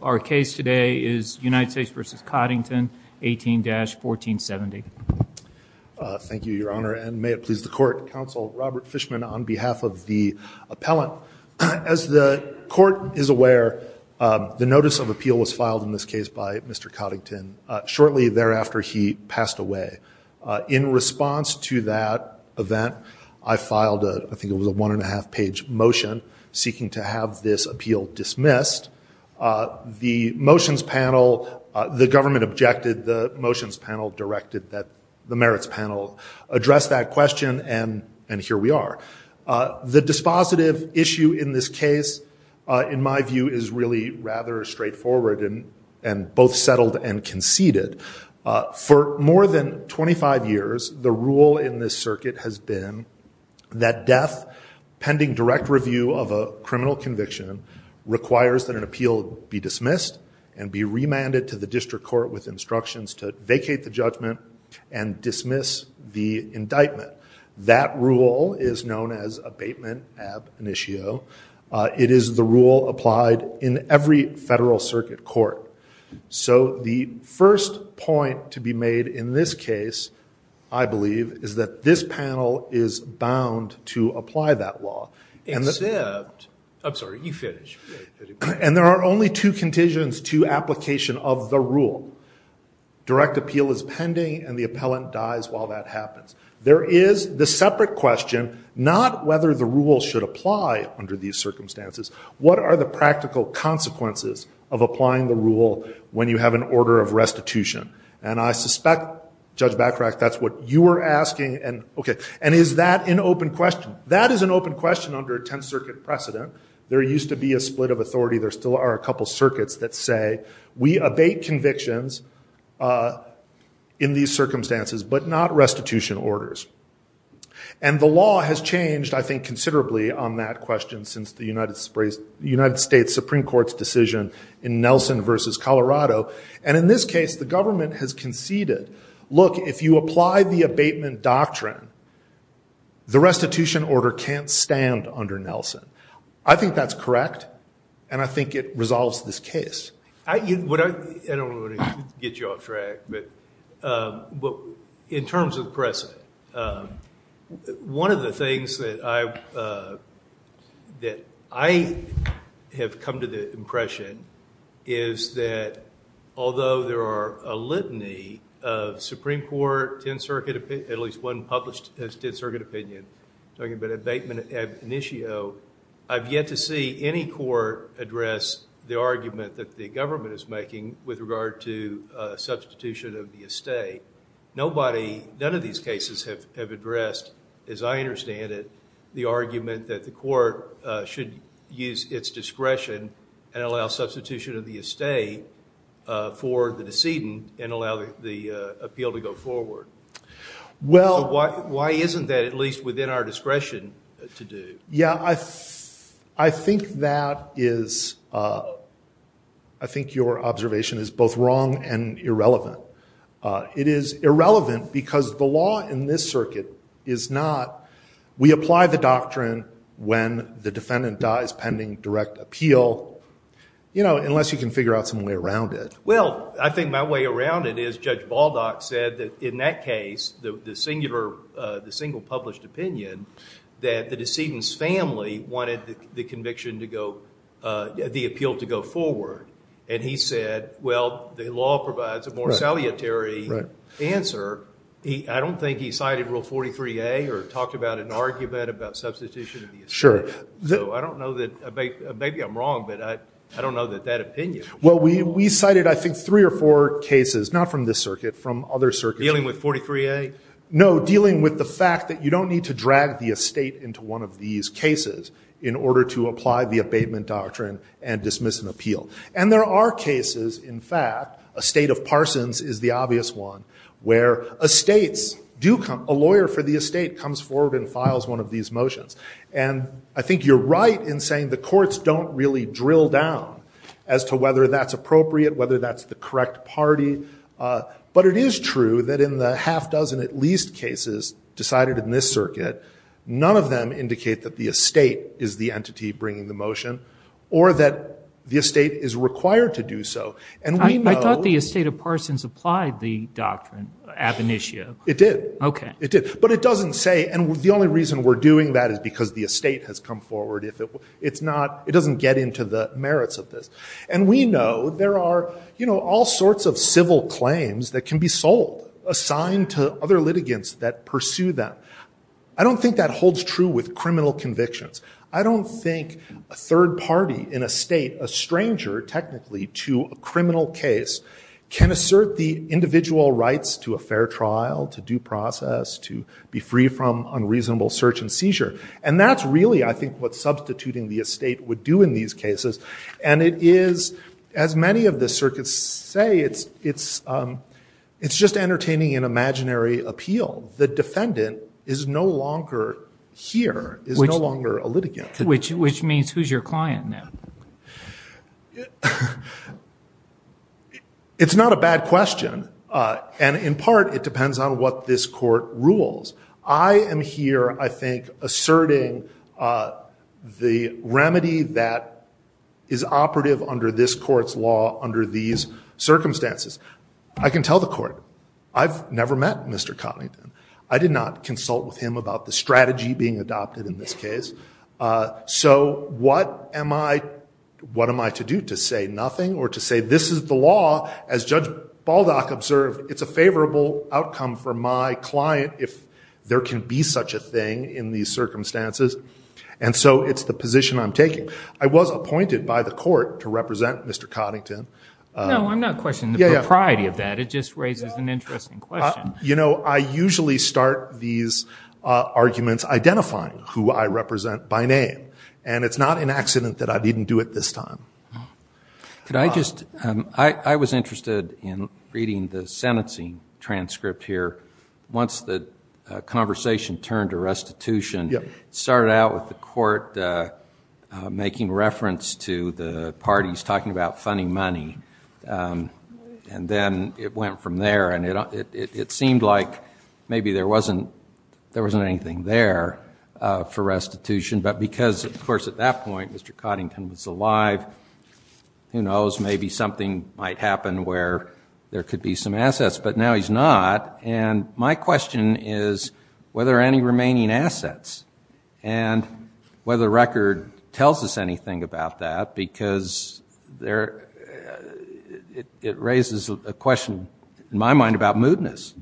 Our case today is United States v. Coddington, 18-1470. Thank you, Your Honor, and may it please the Court, Counsel Robert Fishman, on behalf of the appellant. As the Court is aware, the notice of appeal was filed in this case by Mr. Coddington shortly thereafter he passed away. In response to that event, I filed, I think it was a one-and-a-half-page motion seeking to have this appeal dismissed. The motions panel, the government objected, the motions panel directed that the merits panel address that question, and here we are. The dispositive issue in this case, in my view, is really rather straightforward and both settled and conceded. For more than 25 years, the rule in this circuit has been that death pending direct review of a criminal conviction requires that an appeal be dismissed and be remanded to the district court with instructions to vacate the judgment and dismiss the indictment. That rule is known as abatement ab initio. It is the rule applied in every federal circuit court. So the first point to be made in this case, I believe, is that this panel is bound to apply that law. Except, I'm sorry, you finish. And there are only two conditions to application of the rule. Direct appeal is pending and the appellant dies while that happens. There is the separate question, not whether the rule should apply under these circumstances, what are the practical consequences of applying the rule when you have an order of restitution? And I suspect, Judge Backtrack, that's what you were asking. And is that an open question? That is an open question under a Tenth Circuit precedent. There used to be a split of authority. There still are a couple circuits that say we abate convictions in these circumstances, but not restitution orders. And the law has changed, I think, considerably on that question since the United States Supreme Court's decision in Nelson v. Colorado. And in this case, the government has conceded, look, if you apply the abatement doctrine, the restitution order can't stand under Nelson. I think that's correct, and I think it resolves this case. I don't want to get you off track, but in terms of precedent, one of the things that I have come to the impression is that although there are a litany of Supreme Court, Tenth Circuit, at least one published as Tenth Circuit opinion, talking about abatement ab initio, I've yet to see any court address the argument that the government is making with regard to substitution of the estate. None of these cases have addressed, as I understand it, the argument that the court should use its discretion and allow substitution of the estate for the decedent and allow the appeal to go forward. So why isn't that at least within our discretion to do? Yeah, I think that is, I think your observation is both wrong and irrelevant. It is irrelevant because the law in this circuit is not, we apply the doctrine when the defendant dies pending direct appeal, you know, unless you can figure out some way around it. Well, I think my way around it is Judge Baldock said that in that case, the single published opinion, that the decedent's family wanted the conviction to go, the appeal to go forward. And he said, well, the law provides a more salutary answer. I don't think he cited Rule 43A or talked about an argument about substitution of the estate. So I don't know that, maybe I'm wrong, but I don't know that that opinion. Well, we cited, I think, three or four cases, not from this circuit, from other circuits. Dealing with 43A? No, dealing with the fact that you don't need to drag the estate into one of these cases in order to apply the abatement doctrine and dismiss an appeal. And there are cases, in fact, a state of Parsons is the obvious one, where estates do come, a lawyer for the estate comes forward and files one of these motions. And I think you're right in saying the courts don't really drill down as to whether that's appropriate, whether that's the correct party. But it is true that in the half dozen at least cases decided in this circuit, none of them indicate that the estate is the entity bringing the motion or that the estate is required to do so. And we know- I thought the estate of Parsons applied the doctrine, ab initio. It did. OK. It did. But it doesn't say, and the only reason we're doing that is because the estate has come forward. It doesn't get into the merits of this. And we know there are all sorts of civil claims that can be sold, assigned to other litigants that pursue them. I don't think that holds true with criminal convictions. I don't think a third party in a state, a stranger technically to a criminal case, can assert the individual rights to a fair trial, to due process, to be free from unreasonable search and seizure. And that's really, I think, what substituting the estate would do in these cases. And it is, as many of the circuits say, it's just entertaining an imaginary appeal. The defendant is no longer here, is no longer a litigant. Which means who's your client now? It's not a bad question. And in part, it depends on what this court rules. I am here, I think, asserting the remedy that is operative under this court's law under these circumstances. I can tell the court, I've never met Mr. Cotlington. I did not consult with him about the strategy being adopted in this case. So what am I to do? To say nothing? Or to say, this is the law, as Judge And so it's the position I'm taking. I was appointed by the court to represent Mr. Cotlington. No, I'm not questioning the propriety of that. It just raises an interesting question. You know, I usually start these arguments identifying who I represent by name. And it's not an accident that I didn't do it this time. Could I just, I was interested in reading the sentencing transcript here. Once the conversation turned to restitution, it started out with the court making reference to the parties talking about funding money. And then it went from there. And it seemed like maybe there wasn't anything there for restitution. But because, of course, at that point, Mr. Cotlington was alive. Who knows, maybe something might happen where there could be some assets. But now he's not. And my question is, whether any remaining assets. And whether the record tells us anything about that. Because it raises a question, in my mind, about moodness.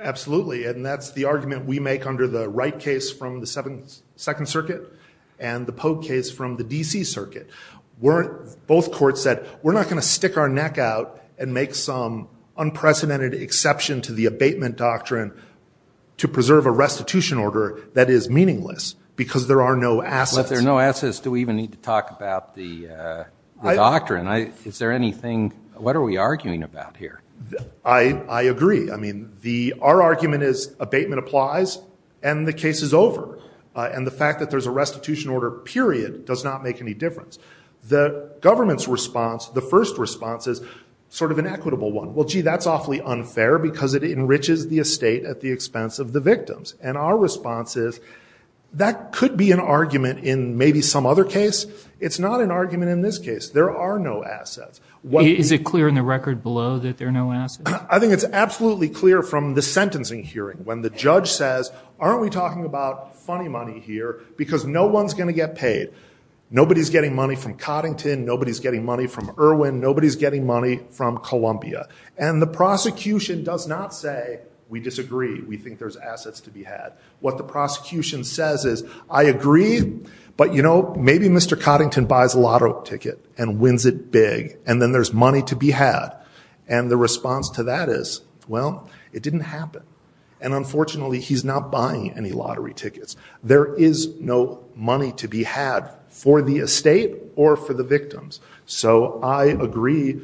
Absolutely. And that's the argument we make under the Wright case from the Second Circuit. And the Pogue case from the D.C. Circuit. Both courts said, we're not going to stick our neck out and make some unprecedented exception to the abatement doctrine to preserve a restitution order that is meaningless. Because there are no assets. Well, if there are no assets, do we even need to talk about the doctrine? Is there anything, what are we arguing about here? I agree. I mean, our argument is abatement applies. And the case is over. And the fact that there's a restitution order, period, does not make any difference. The government's response, the first response, is sort of an equitable one. Well, gee, that's awfully unfair, because it enriches the estate at the expense of the victims. And our response is, that could be an argument in maybe some other case. It's not an argument in this case. There are no assets. Is it clear in the record below that there are no assets? I think it's absolutely clear from the sentencing hearing, when the judge says, aren't we talking about funny money here? Because no one's going to get paid. Nobody's getting money from Coddington. Nobody's getting money from Irwin. Nobody's getting money from Columbia. And the prosecution does not say, we disagree. We think there's assets to be had. What the prosecution says is, I agree, but you know, maybe Mr. Coddington buys a lotto ticket and wins it big. And then there's money to be had. And the response to that is, well, it didn't happen. And unfortunately, he's not buying any lottery tickets. There is no money to be had for the estate or for the victims. So I agree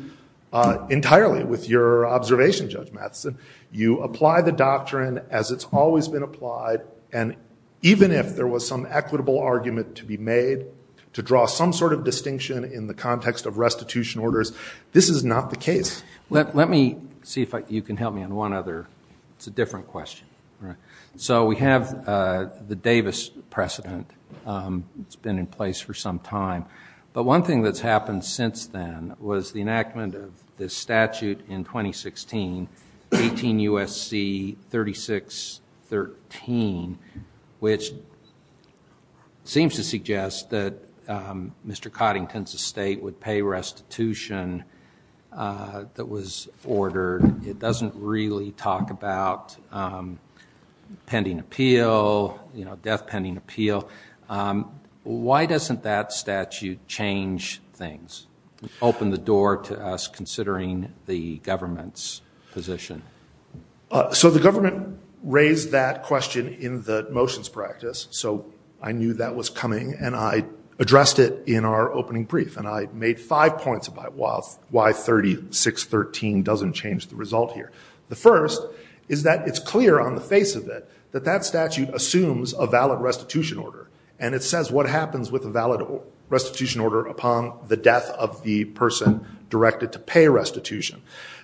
entirely with your observation, Judge Matheson. You apply the doctrine as it's always been applied. And even if there was some equitable argument to be made to draw some sort of distinction in the context of restitution orders, this is not the case. Let me see if you can help me on one other. It's a different question. So we have the Davis precedent. It's been in place for some time. But one thing that's happened since then was the enactment of this statute in 2016, 18 U.S.C. 3613, which seems to suggest that Mr. Coddington's estate would pay restitution that was ordered. It doesn't really talk about pending appeal, death pending appeal. Why doesn't that statute change things, open the door to us considering the government's position? So the government raised that question in the motions practice. So I knew that was coming. And I addressed it in our opening brief. And I made five points about why 3613 doesn't change the result here. The first is that it's clear on the face of it that that statute assumes a valid restitution order. And it says what happens with a valid restitution order upon the death of the person directed to pay restitution.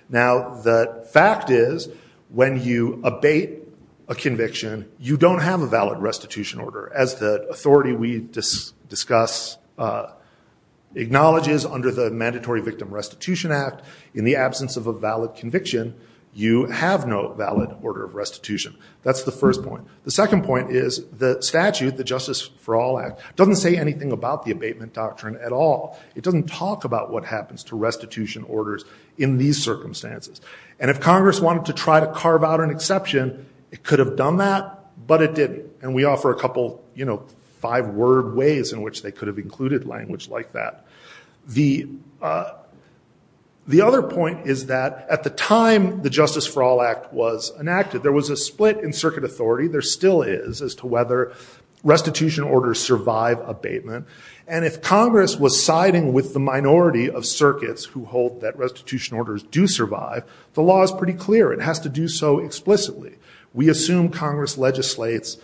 Now, the fact is, when you abate a conviction, you don't have a valid restitution order, as the authority we discuss acknowledges under the Mandatory Victim Restitution Act. In the absence of a valid conviction, you have no valid order of restitution. That's the first point. The second point is the statute, the Justice for All Act, doesn't say anything about the abatement doctrine at all. It doesn't talk about what happens to restitution orders in these circumstances. And if Congress wanted to try to carve out an exception, it could have done that, but it didn't. And we offer a language like that. The other point is that at the time the Justice for All Act was enacted, there was a split in circuit authority. There still is, as to whether restitution orders survive abatement. And if Congress was siding with the minority of circuits who hold that restitution orders do survive, the law is pretty clear. It has to do so explicitly. We assume Congress legislates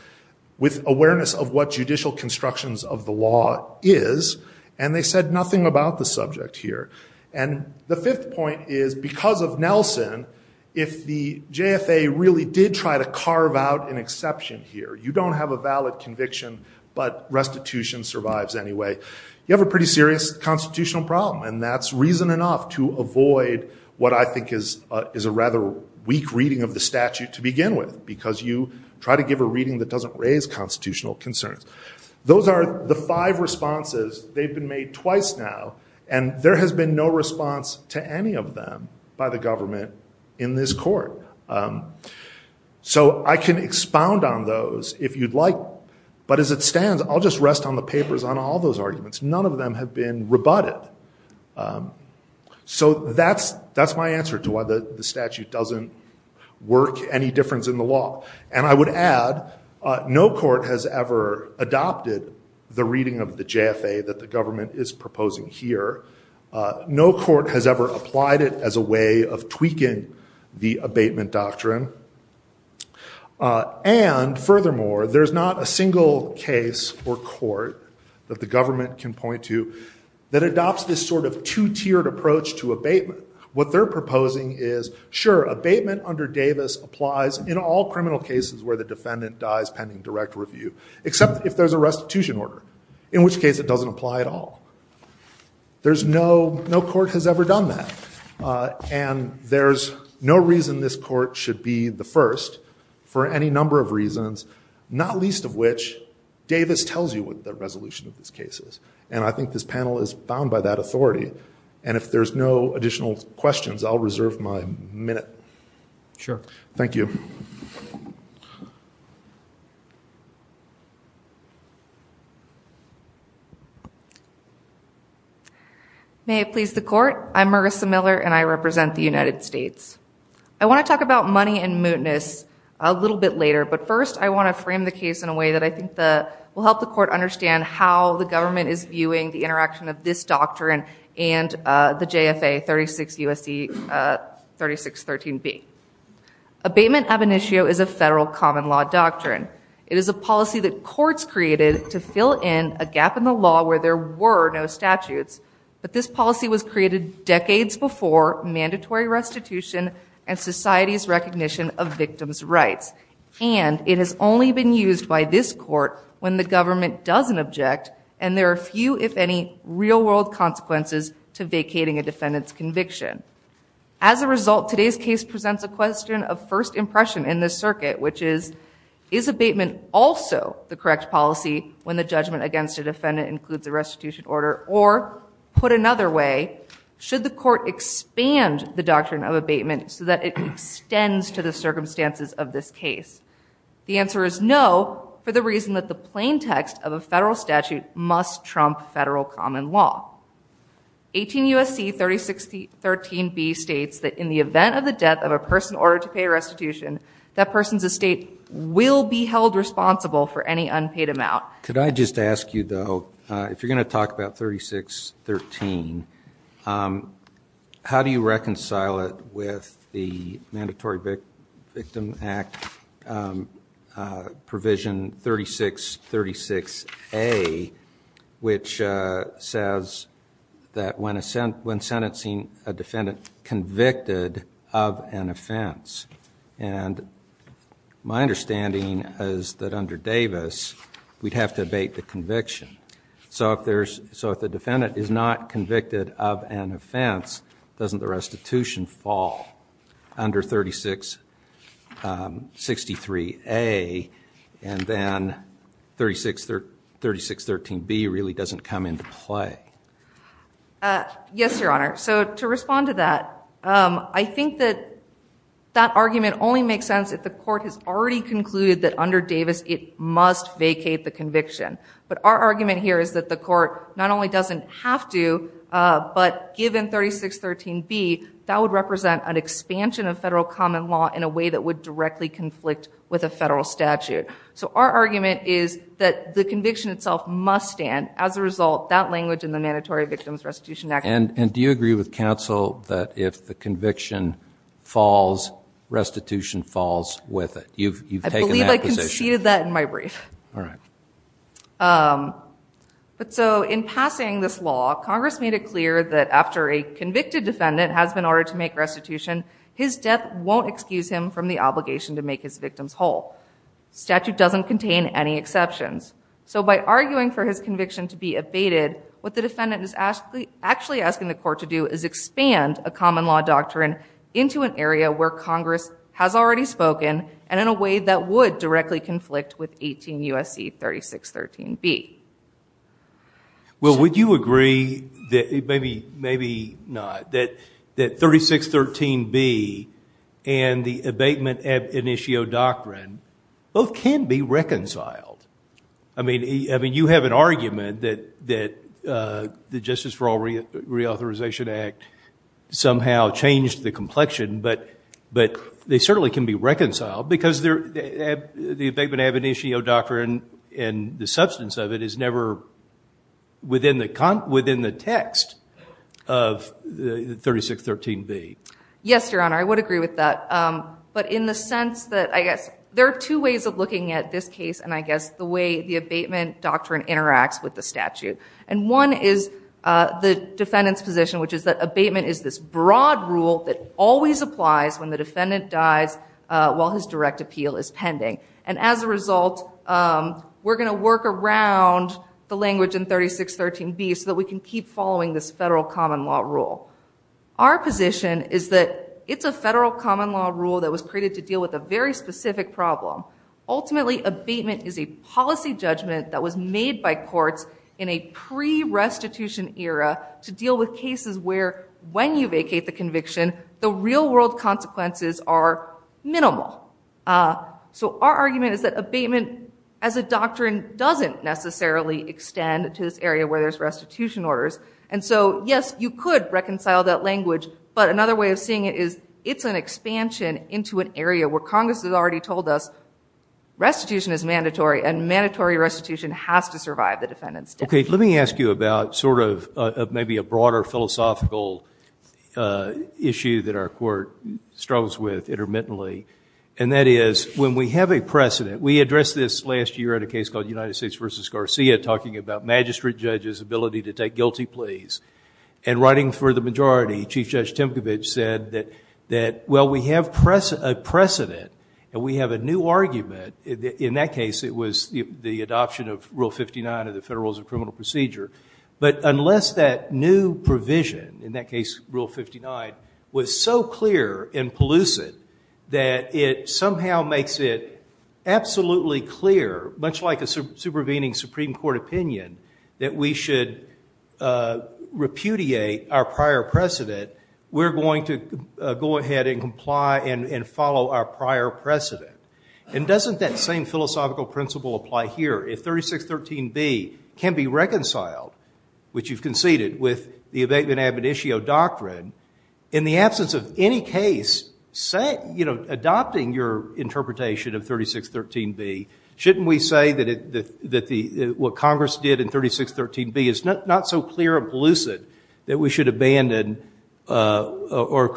with awareness of what judicial constructions of the law is, and they said nothing about the subject here. And the fifth point is because of Nelson, if the JFA really did try to carve out an exception here, you don't have a valid conviction, but restitution survives anyway, you have a pretty serious constitutional problem. And that's reason enough to avoid what I give a reading that doesn't raise constitutional concerns. Those are the five responses. They've been made twice now, and there has been no response to any of them by the government in this court. So I can expound on those if you'd like, but as it stands, I'll just rest on the papers on all those arguments. None of them have been rebutted. So that's my answer to why the statute doesn't work any difference in the law. And I would add, no court has ever adopted the reading of the JFA that the government is proposing here. No court has ever applied it as a way of tweaking the abatement doctrine. And furthermore, there's not a single case or court that the government can point to that adopts this sort of two-tiered approach to abatement. What they're proposing is, sure, abatement under Davis applies in all criminal cases where the defendant dies pending direct review, except if there's a restitution order, in which case it doesn't apply at all. There's no, no court has ever done that. And there's no reason this court should be the first for any number of reasons, not least of which Davis tells you what the resolution of this case is. And I think this panel is bound by that authority. And if there's no additional questions, I'll reserve my minute. Sure. Thank you. May it please the court. I'm Marissa Miller, and I represent the United States. I want to talk about money and mootness a little bit later. But first, I want to frame the case in a way that I think will help the court understand how the government is viewing the interaction of this doctrine and the JFA 36 U.S.C. 3613B. Abatement ab initio is a federal common law doctrine. It is a policy that courts created to fill in a gap in the law where there were no statutes. But this policy was created decades before mandatory restitution and society's recognition of victims' rights. And it has only been used by this court when the government doesn't object and there are few, if any, real-world consequences to vacating a defendant's conviction. As a result, today's case presents a question of first impression in this circuit, which is, is abatement also the correct policy when the judgment against a defendant includes a restitution order? Or put another way, should the court expand the doctrine of abatement so that it extends to the circumstances of this case? The answer is no, for the reason that the plaintext of a federal statute must trump federal common law. 18 U.S.C. 3613B states that in the event of the death of a person ordered to pay restitution, that person's estate will be held responsible for any unpaid amount. Could I just ask you though, if you're going to talk about 3613, how do you address 36A, which says that when sentencing a defendant convicted of an offense? And my understanding is that under Davis, we'd have to abate the conviction. So if the defendant is not convicted, 3613B really doesn't come into play. Yes, your honor. So to respond to that, I think that that argument only makes sense if the court has already concluded that under Davis, it must vacate the conviction. But our argument here is that the court not only doesn't have to, but given 3613B, that would represent an expansion of federal common law in a way that would directly conflict with a federal statute. So our argument is that the conviction itself must stand. As a result, that language in the Mandatory Victims Restitution Act. And do you agree with counsel that if the conviction falls, restitution falls with it? You've taken that position. I believe I conceded that in my brief. All right. But so in passing this law, Congress made it clear that after a convicted defendant has been ordered to make restitution, his death won't excuse him from the obligation to make his victims whole. Statute doesn't contain any exceptions. So by arguing for his conviction to be abated, what the defendant is actually asking the court to do is expand a common law doctrine into an area where Congress has already spoken and in a way that would directly conflict with 18 U.S.C. 3613B. Well, would you agree that, maybe not, that 3613B and the abatement ab initio doctrine both can be reconciled? I mean, you have an argument that the Justice for All Reauthorization Act somehow changed the complexion, but they certainly can be reconciled because the abatement ab initio doctrine and the substance of it is never within the text of 3613B. Yes, Your Honor. I would agree with that. But in the sense that, I guess, there are two ways of looking at this case and, I guess, the way the abatement doctrine interacts with the statute. And one is the defendant's position, which is that abatement is this broad rule that always applies when the defendant dies while his direct appeal is pending. And as a result, we're going to work around the language in 3613B so that we can keep following this federal common law rule. Our position is that it's a federal common law rule that was created to deal with a very specific problem. Ultimately, abatement is a policy judgment that was made by courts in a pre-restitution era to deal with cases where, when you vacate the conviction, the real world consequences are minimal. So our argument is that abatement as a doctrine doesn't necessarily extend to this area where there's restitution orders. And so, yes, you could reconcile that language. But another way of seeing it is it's an expansion into an area where Congress has already told us restitution is mandatory and mandatory restitution has to survive the defendant's death. Okay. Let me ask you about sort of maybe a broader philosophical issue that our court struggles with intermittently. And that is, when we have a precedent, we addressed this last year at a magistrate judge's ability to take guilty pleas. And writing for the majority, Chief Judge Timkovich said that, well, we have a precedent and we have a new argument. In that case, it was the adoption of Rule 59 of the Federal Rules of Criminal Procedure. But unless that new provision, in that case, Rule 59, was so clear and pollucent that it somehow makes it absolutely clear, much like a supervening Supreme Court opinion, that we should repudiate our prior precedent, we're going to go ahead and comply and follow our prior precedent. And doesn't that same philosophical principle apply here? If 3613B can be reconciled, which you've conceded with the abatement ab initio doctrine, in the absence of any case adopting your interpretation of 3613B, shouldn't we say that what Congress did in 3613B is not so clear and pollucent that we should abandon or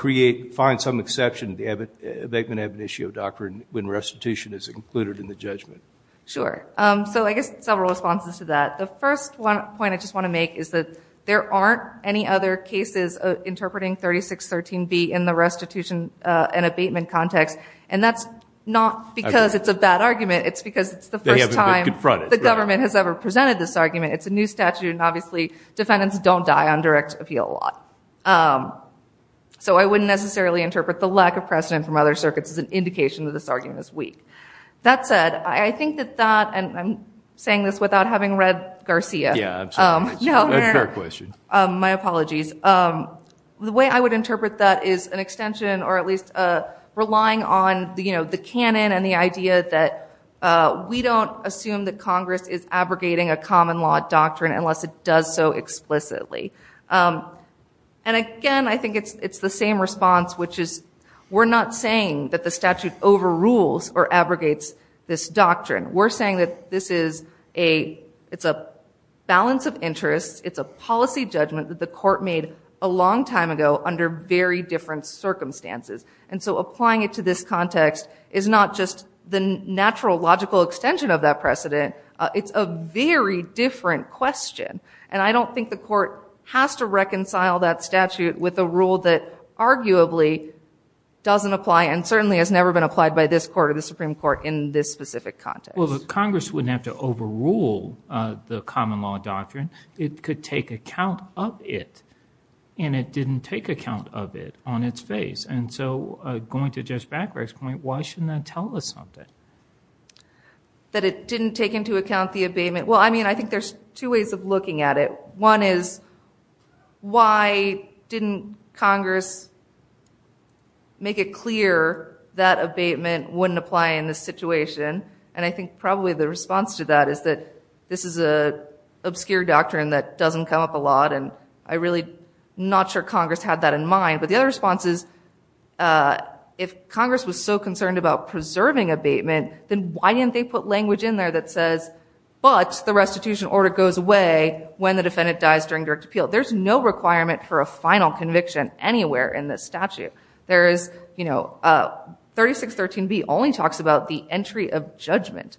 find some exception to the abatement ab initio doctrine when restitution is included in the judgment? Sure. So I guess several responses to that. The first point I just want to make is that there aren't any other cases interpreting 3613B in the restitution and abatement context. And that's not because it's a bad argument. It's because it's the first time the government has ever presented this argument. It's a new statute. And obviously, defendants don't die on direct appeal a lot. So I wouldn't necessarily interpret the lack of precedent from other circuits as an indication that this argument is weak. That said, I think that that, and I'm saying this without having read Garcia, my apologies. The way I would interpret that is an extension, or at least relying on the canon and the idea that we don't assume that Congress is abrogating a common law doctrine unless it does so explicitly. And again, I think it's the same response, which is we're not saying that the statute overrules or abrogates this doctrine. We're saying that this is a balance of interests. It's a policy judgment that the court made a long time ago under very different circumstances. And so applying it to this context is not just the natural logical extension of that precedent. It's a very different question. And I don't think the court has to reconcile that statute with a rule that arguably doesn't apply and certainly has never been applied by this court or the Supreme Court in this specific context. Well, the Congress wouldn't have to overrule the common law doctrine. It could take account of it. And it didn't take account of it on its face. And so going to Judge Backberg's point, why shouldn't that tell us something? That it didn't take into account the abatement. Well, I mean, I think there's two ways of looking at it. One is why didn't Congress make it clear that abatement wouldn't apply in this situation? And I think probably the response to that is that this is an obscure doctrine that doesn't come up a lot. And I'm really not sure Congress had that in mind. But the other response is, if Congress was so concerned about preserving abatement, then why didn't they put language in there that says, but the restitution order goes away when the defendant dies during direct appeal? There's no requirement for a final conviction anywhere in this statute. There is, you know, 3613b only talks about the entry of judgment.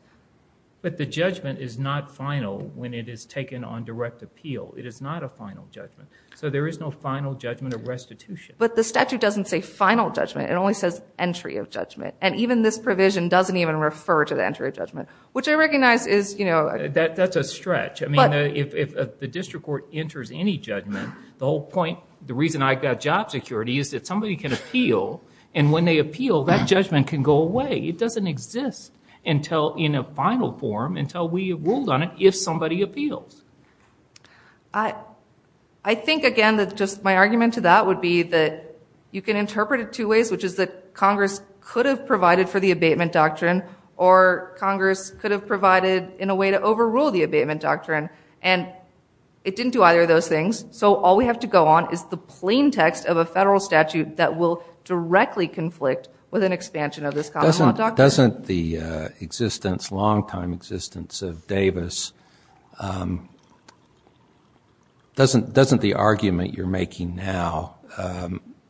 But the judgment is not final when it is taken on direct appeal. It is not a final judgment. So there is no final judgment of restitution. But the statute doesn't say final judgment. It only says entry of judgment. And even this provision doesn't even refer to the entry of judgment, which I recognize is, you know... That's a stretch. I mean, if the district court enters any judgment, the whole point, the reason I got job security is that somebody can appeal. And when they appeal, that judgment can go away. It doesn't exist until in a final form, until we ruled on it, if somebody appeals. I think, again, that just my argument to that would be that you can interpret it two ways, which is that Congress could have provided for the abatement doctrine, or Congress could have provided in a way to overrule the abatement doctrine. And it didn't do either of those directly conflict with an expansion of this common law doctrine. Doesn't the existence, long-time existence of Davis... Doesn't the argument you're making now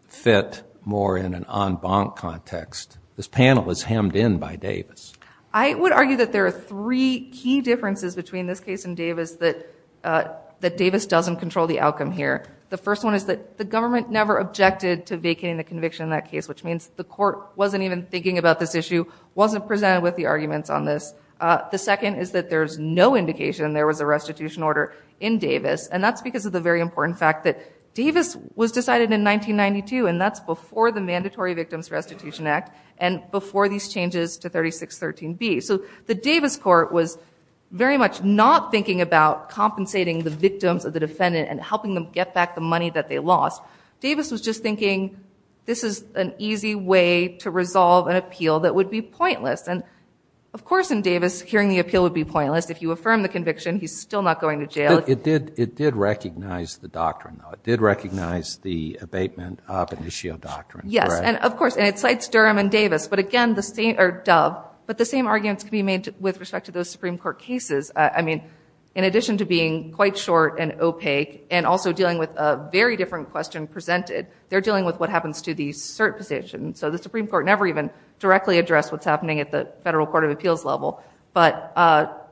fit more in an en banc context? This panel is hemmed in by Davis. I would argue that there are three key differences between this case and Davis that Davis doesn't control the outcome here. The first one is that the government never objected to vacating the conviction in that case, which means the court wasn't even thinking about this issue, wasn't presented with the arguments on this. The second is that there's no indication there was a restitution order in Davis. And that's because of the very important fact that Davis was decided in 1992, and that's before the Mandatory Victims Restitution Act and before these changes to 3613b. So the Davis court was very much not thinking about compensating the victims of the defendant and helping them get back the money that they lost. Davis was just thinking, this is an easy way to resolve an appeal that would be pointless. And of course, in Davis, hearing the appeal would be pointless. If you affirm the conviction, he's still not going to jail. It did recognize the doctrine. It did recognize the abatement of an issue of doctrine. Yes, and of course, and it cites Durham and Davis. But again, the same arguments can be made with respect to those Supreme Court cases. I mean, in addition to being quite short and opaque, also dealing with a very different question presented, they're dealing with what happens to the cert position. So the Supreme Court never even directly addressed what's happening at the Federal Court of Appeals level. But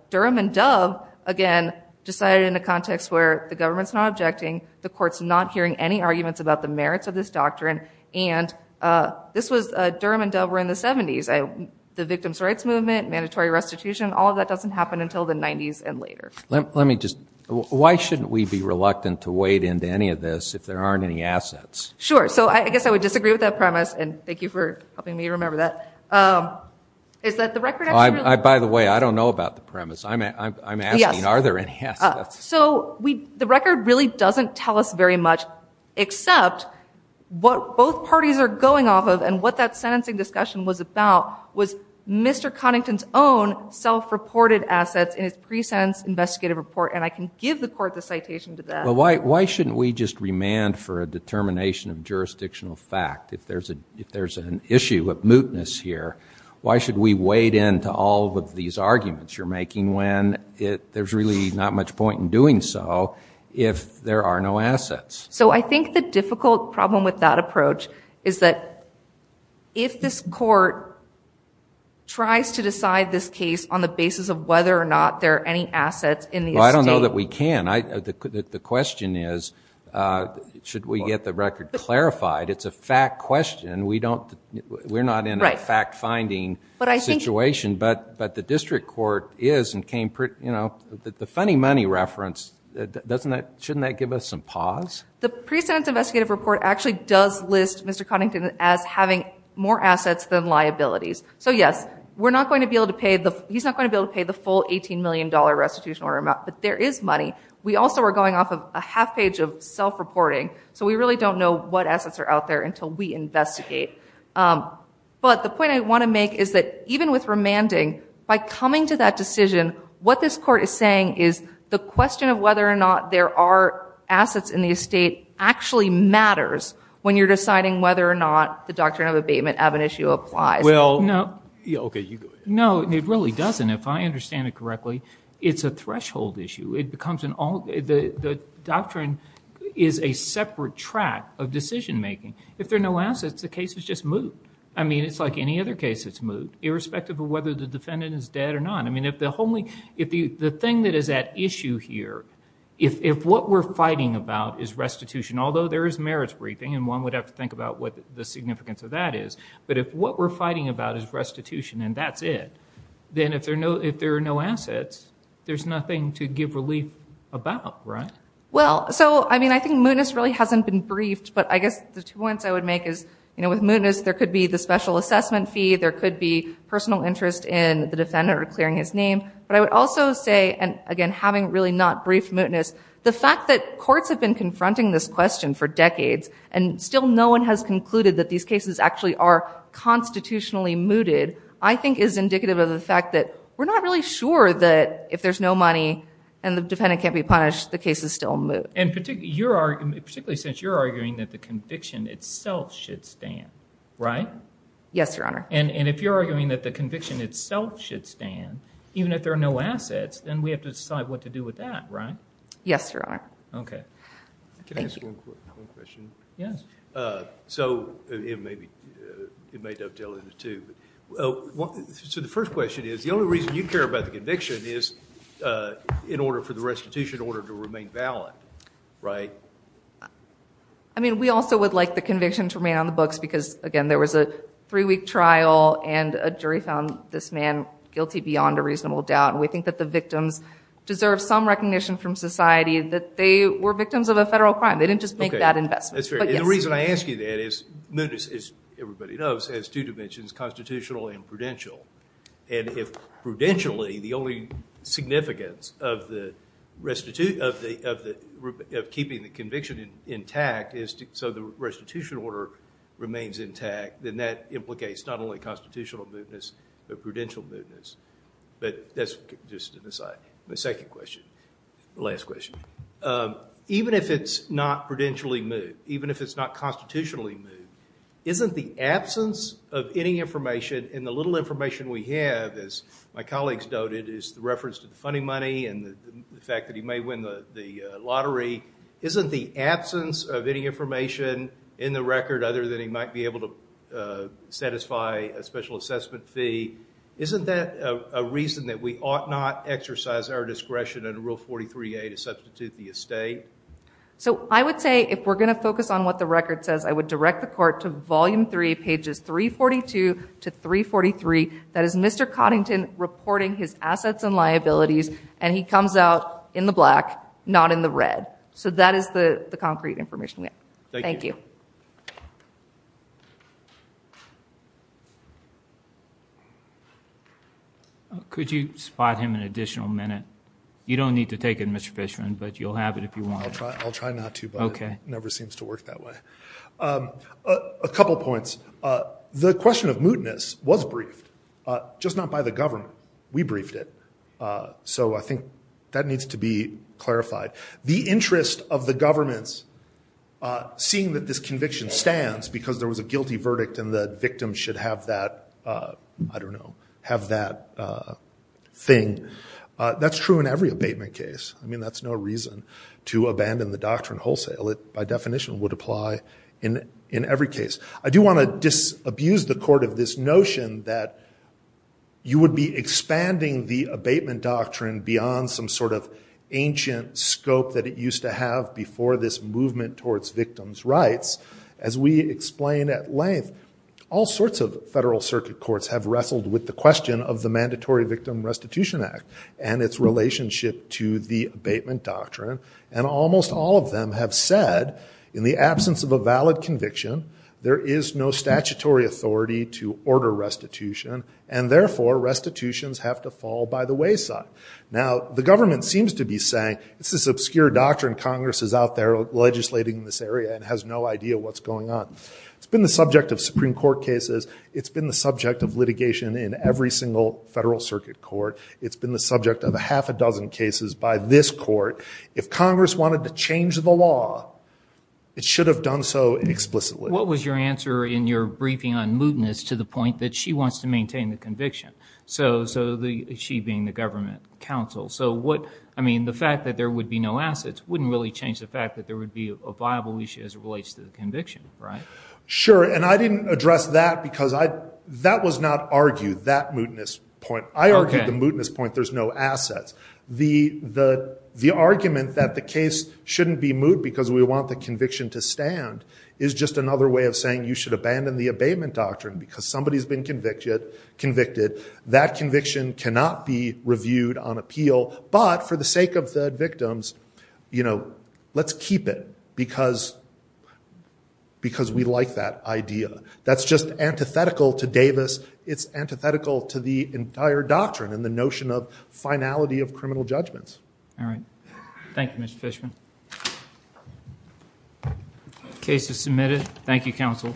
Durham and Dove, again, decided in a context where the government's not objecting, the court's not hearing any arguments about the merits of this doctrine. And this was Durham and Dove were in the 70s. The Victims Rights Movement, Mandatory Restitution, all of that doesn't happen until the 90s and later. Let me just, why shouldn't we be reluctant to wade into any of this if there aren't any assets? Sure. So I guess I would disagree with that premise. And thank you for helping me remember that. Is that the record? By the way, I don't know about the premise. I'm asking, are there any assets? So the record really doesn't tell us very much, except what both parties are going off of and what that sentencing discussion was about was Mr. Connington's own self-reported assets in pre-sentence investigative report. And I can give the court the citation to that. Well, why shouldn't we just remand for a determination of jurisdictional fact? If there's an issue of mootness here, why should we wade into all of these arguments you're making when there's really not much point in doing so if there are no assets? So I think the difficult problem with that approach is that if this court tries to decide this case on the basis of whether or not there are any assets in the estate- Well, I don't know that we can. The question is, should we get the record clarified? It's a fact question. We're not in a fact-finding situation, but the district court is and came pretty, you know, the funny money reference, shouldn't that give us some pause? The pre-sentence investigative report actually does list Mr. Connington as having more assets than liabilities. So yes, he's not going to be able to pay the full $18 million restitution order amount, but there is money. We also are going off of a half page of self-reporting, so we really don't know what assets are out there until we investigate. But the point I want to make is that even with remanding, by coming to that decision, what this court is saying is the question of whether or not there are assets in the estate actually matters when you're deciding whether or not the doctrine of abatement of an issue applies. No, it really doesn't. If I understand it correctly, it's a threshold issue. The doctrine is a separate track of decision making. If there are no assets, the case is just moved. I mean, it's like any other case, it's moved, irrespective of whether the defendant is dead or not. I mean, if the thing that is at issue here, if what we're fighting about is restitution, although there is merits briefing, and one would have to think about what the significance of that is, but if what we're fighting about is restitution and that's it, then if there are no assets, there's nothing to give relief about, right? Well, so I mean, I think Moodness really hasn't been briefed, but I guess the two points I would make is with Moodness, there could be the special name, but I would also say, and again, having really not briefed Moodness, the fact that courts have been confronting this question for decades and still no one has concluded that these cases actually are constitutionally mooted, I think is indicative of the fact that we're not really sure that if there's no money and the defendant can't be punished, the case is still moved. And particularly since you're arguing that the conviction itself should stand, right? Yes, Your Honor. And if you're arguing that the conviction itself should stand, even if there are no assets, then we have to decide what to do with that, right? Yes, Your Honor. Okay. Can I ask one question? Yes. So it may dovetail into two. So the first question is, the only reason you care about the conviction is in order for the restitution order to remain valid, right? I mean, we also would like the conviction to remain on the books because, again, there was a three-week trial and a jury found this man guilty beyond a reasonable doubt. And we think that the victims deserve some recognition from society that they were victims of a federal crime. They didn't just make that investment. That's fair. And the reason I ask you that is Moodness, as everybody knows, has two dimensions, constitutional and prudential. And if prudentially, the only significance of keeping the conviction intact is so the restitution order remains intact, then that implicates not only constitutional moodness, but prudential moodness. But that's just an aside. My second question. Last question. Even if it's not prudentially mood, even if it's not constitutionally mood, isn't the absence of any information and the little information we have, as my colleagues noted, is the reference to the funding money and the fact that he may win the case, the absence of any information in the record other than he might be able to satisfy a special assessment fee, isn't that a reason that we ought not exercise our discretion in Rule 43A to substitute the estate? So I would say if we're going to focus on what the record says, I would direct the court to Volume 3, pages 342 to 343. That is Mr. Coddington reporting his assets and liabilities, and he comes out in the black, not in the red. So that is the concrete information we have. Thank you. Could you spot him an additional minute? You don't need to take it, Mr. Fishman, but you'll have it if you want. I'll try not to, but it never seems to work that way. A couple points. The question of that needs to be clarified. The interest of the governments, seeing that this conviction stands because there was a guilty verdict and the victim should have that, I don't know, have that thing, that's true in every abatement case. I mean, that's no reason to abandon the doctrine wholesale. It, by definition, would apply in every case. I do want to disabuse the court of this notion that you would be expanding the abatement doctrine beyond some sort of ancient scope that it used to have before this movement towards victims' rights. As we explain at length, all sorts of federal circuit courts have wrestled with the question of the Mandatory Victim Restitution Act and its relationship to the abatement doctrine, and almost all of them have said, in the absence of a valid conviction, there is no statutory authority to order restitution, and therefore, restitutions have to fall by the wayside. Now, the government seems to be saying, it's this obscure doctrine Congress is out there legislating in this area and has no idea what's going on. It's been the subject of Supreme Court cases. It's been the subject of litigation in every single federal circuit court. It's been the subject of a half a dozen cases by this court. If Congress wanted to change the law, it should have done so explicitly. What was your answer in your briefing on mootness to the point that she wants to maintain the conviction? She being the government counsel. The fact that there would be no assets wouldn't really change the fact that there would be a viable issue as it relates to the conviction, right? Sure, and I didn't address that because that was not argued, that mootness point. I argued the assets. The argument that the case shouldn't be moot because we want the conviction to stand is just another way of saying you should abandon the abatement doctrine because somebody's been convicted. That conviction cannot be reviewed on appeal, but for the sake of the victims, let's keep it because we like that idea. That's just antithetical to Davis. It's antithetical to the entire doctrine and the notion of finality of criminal judgments. All right. Thank you, Mr. Fishman. Case is submitted. Thank you, counsel.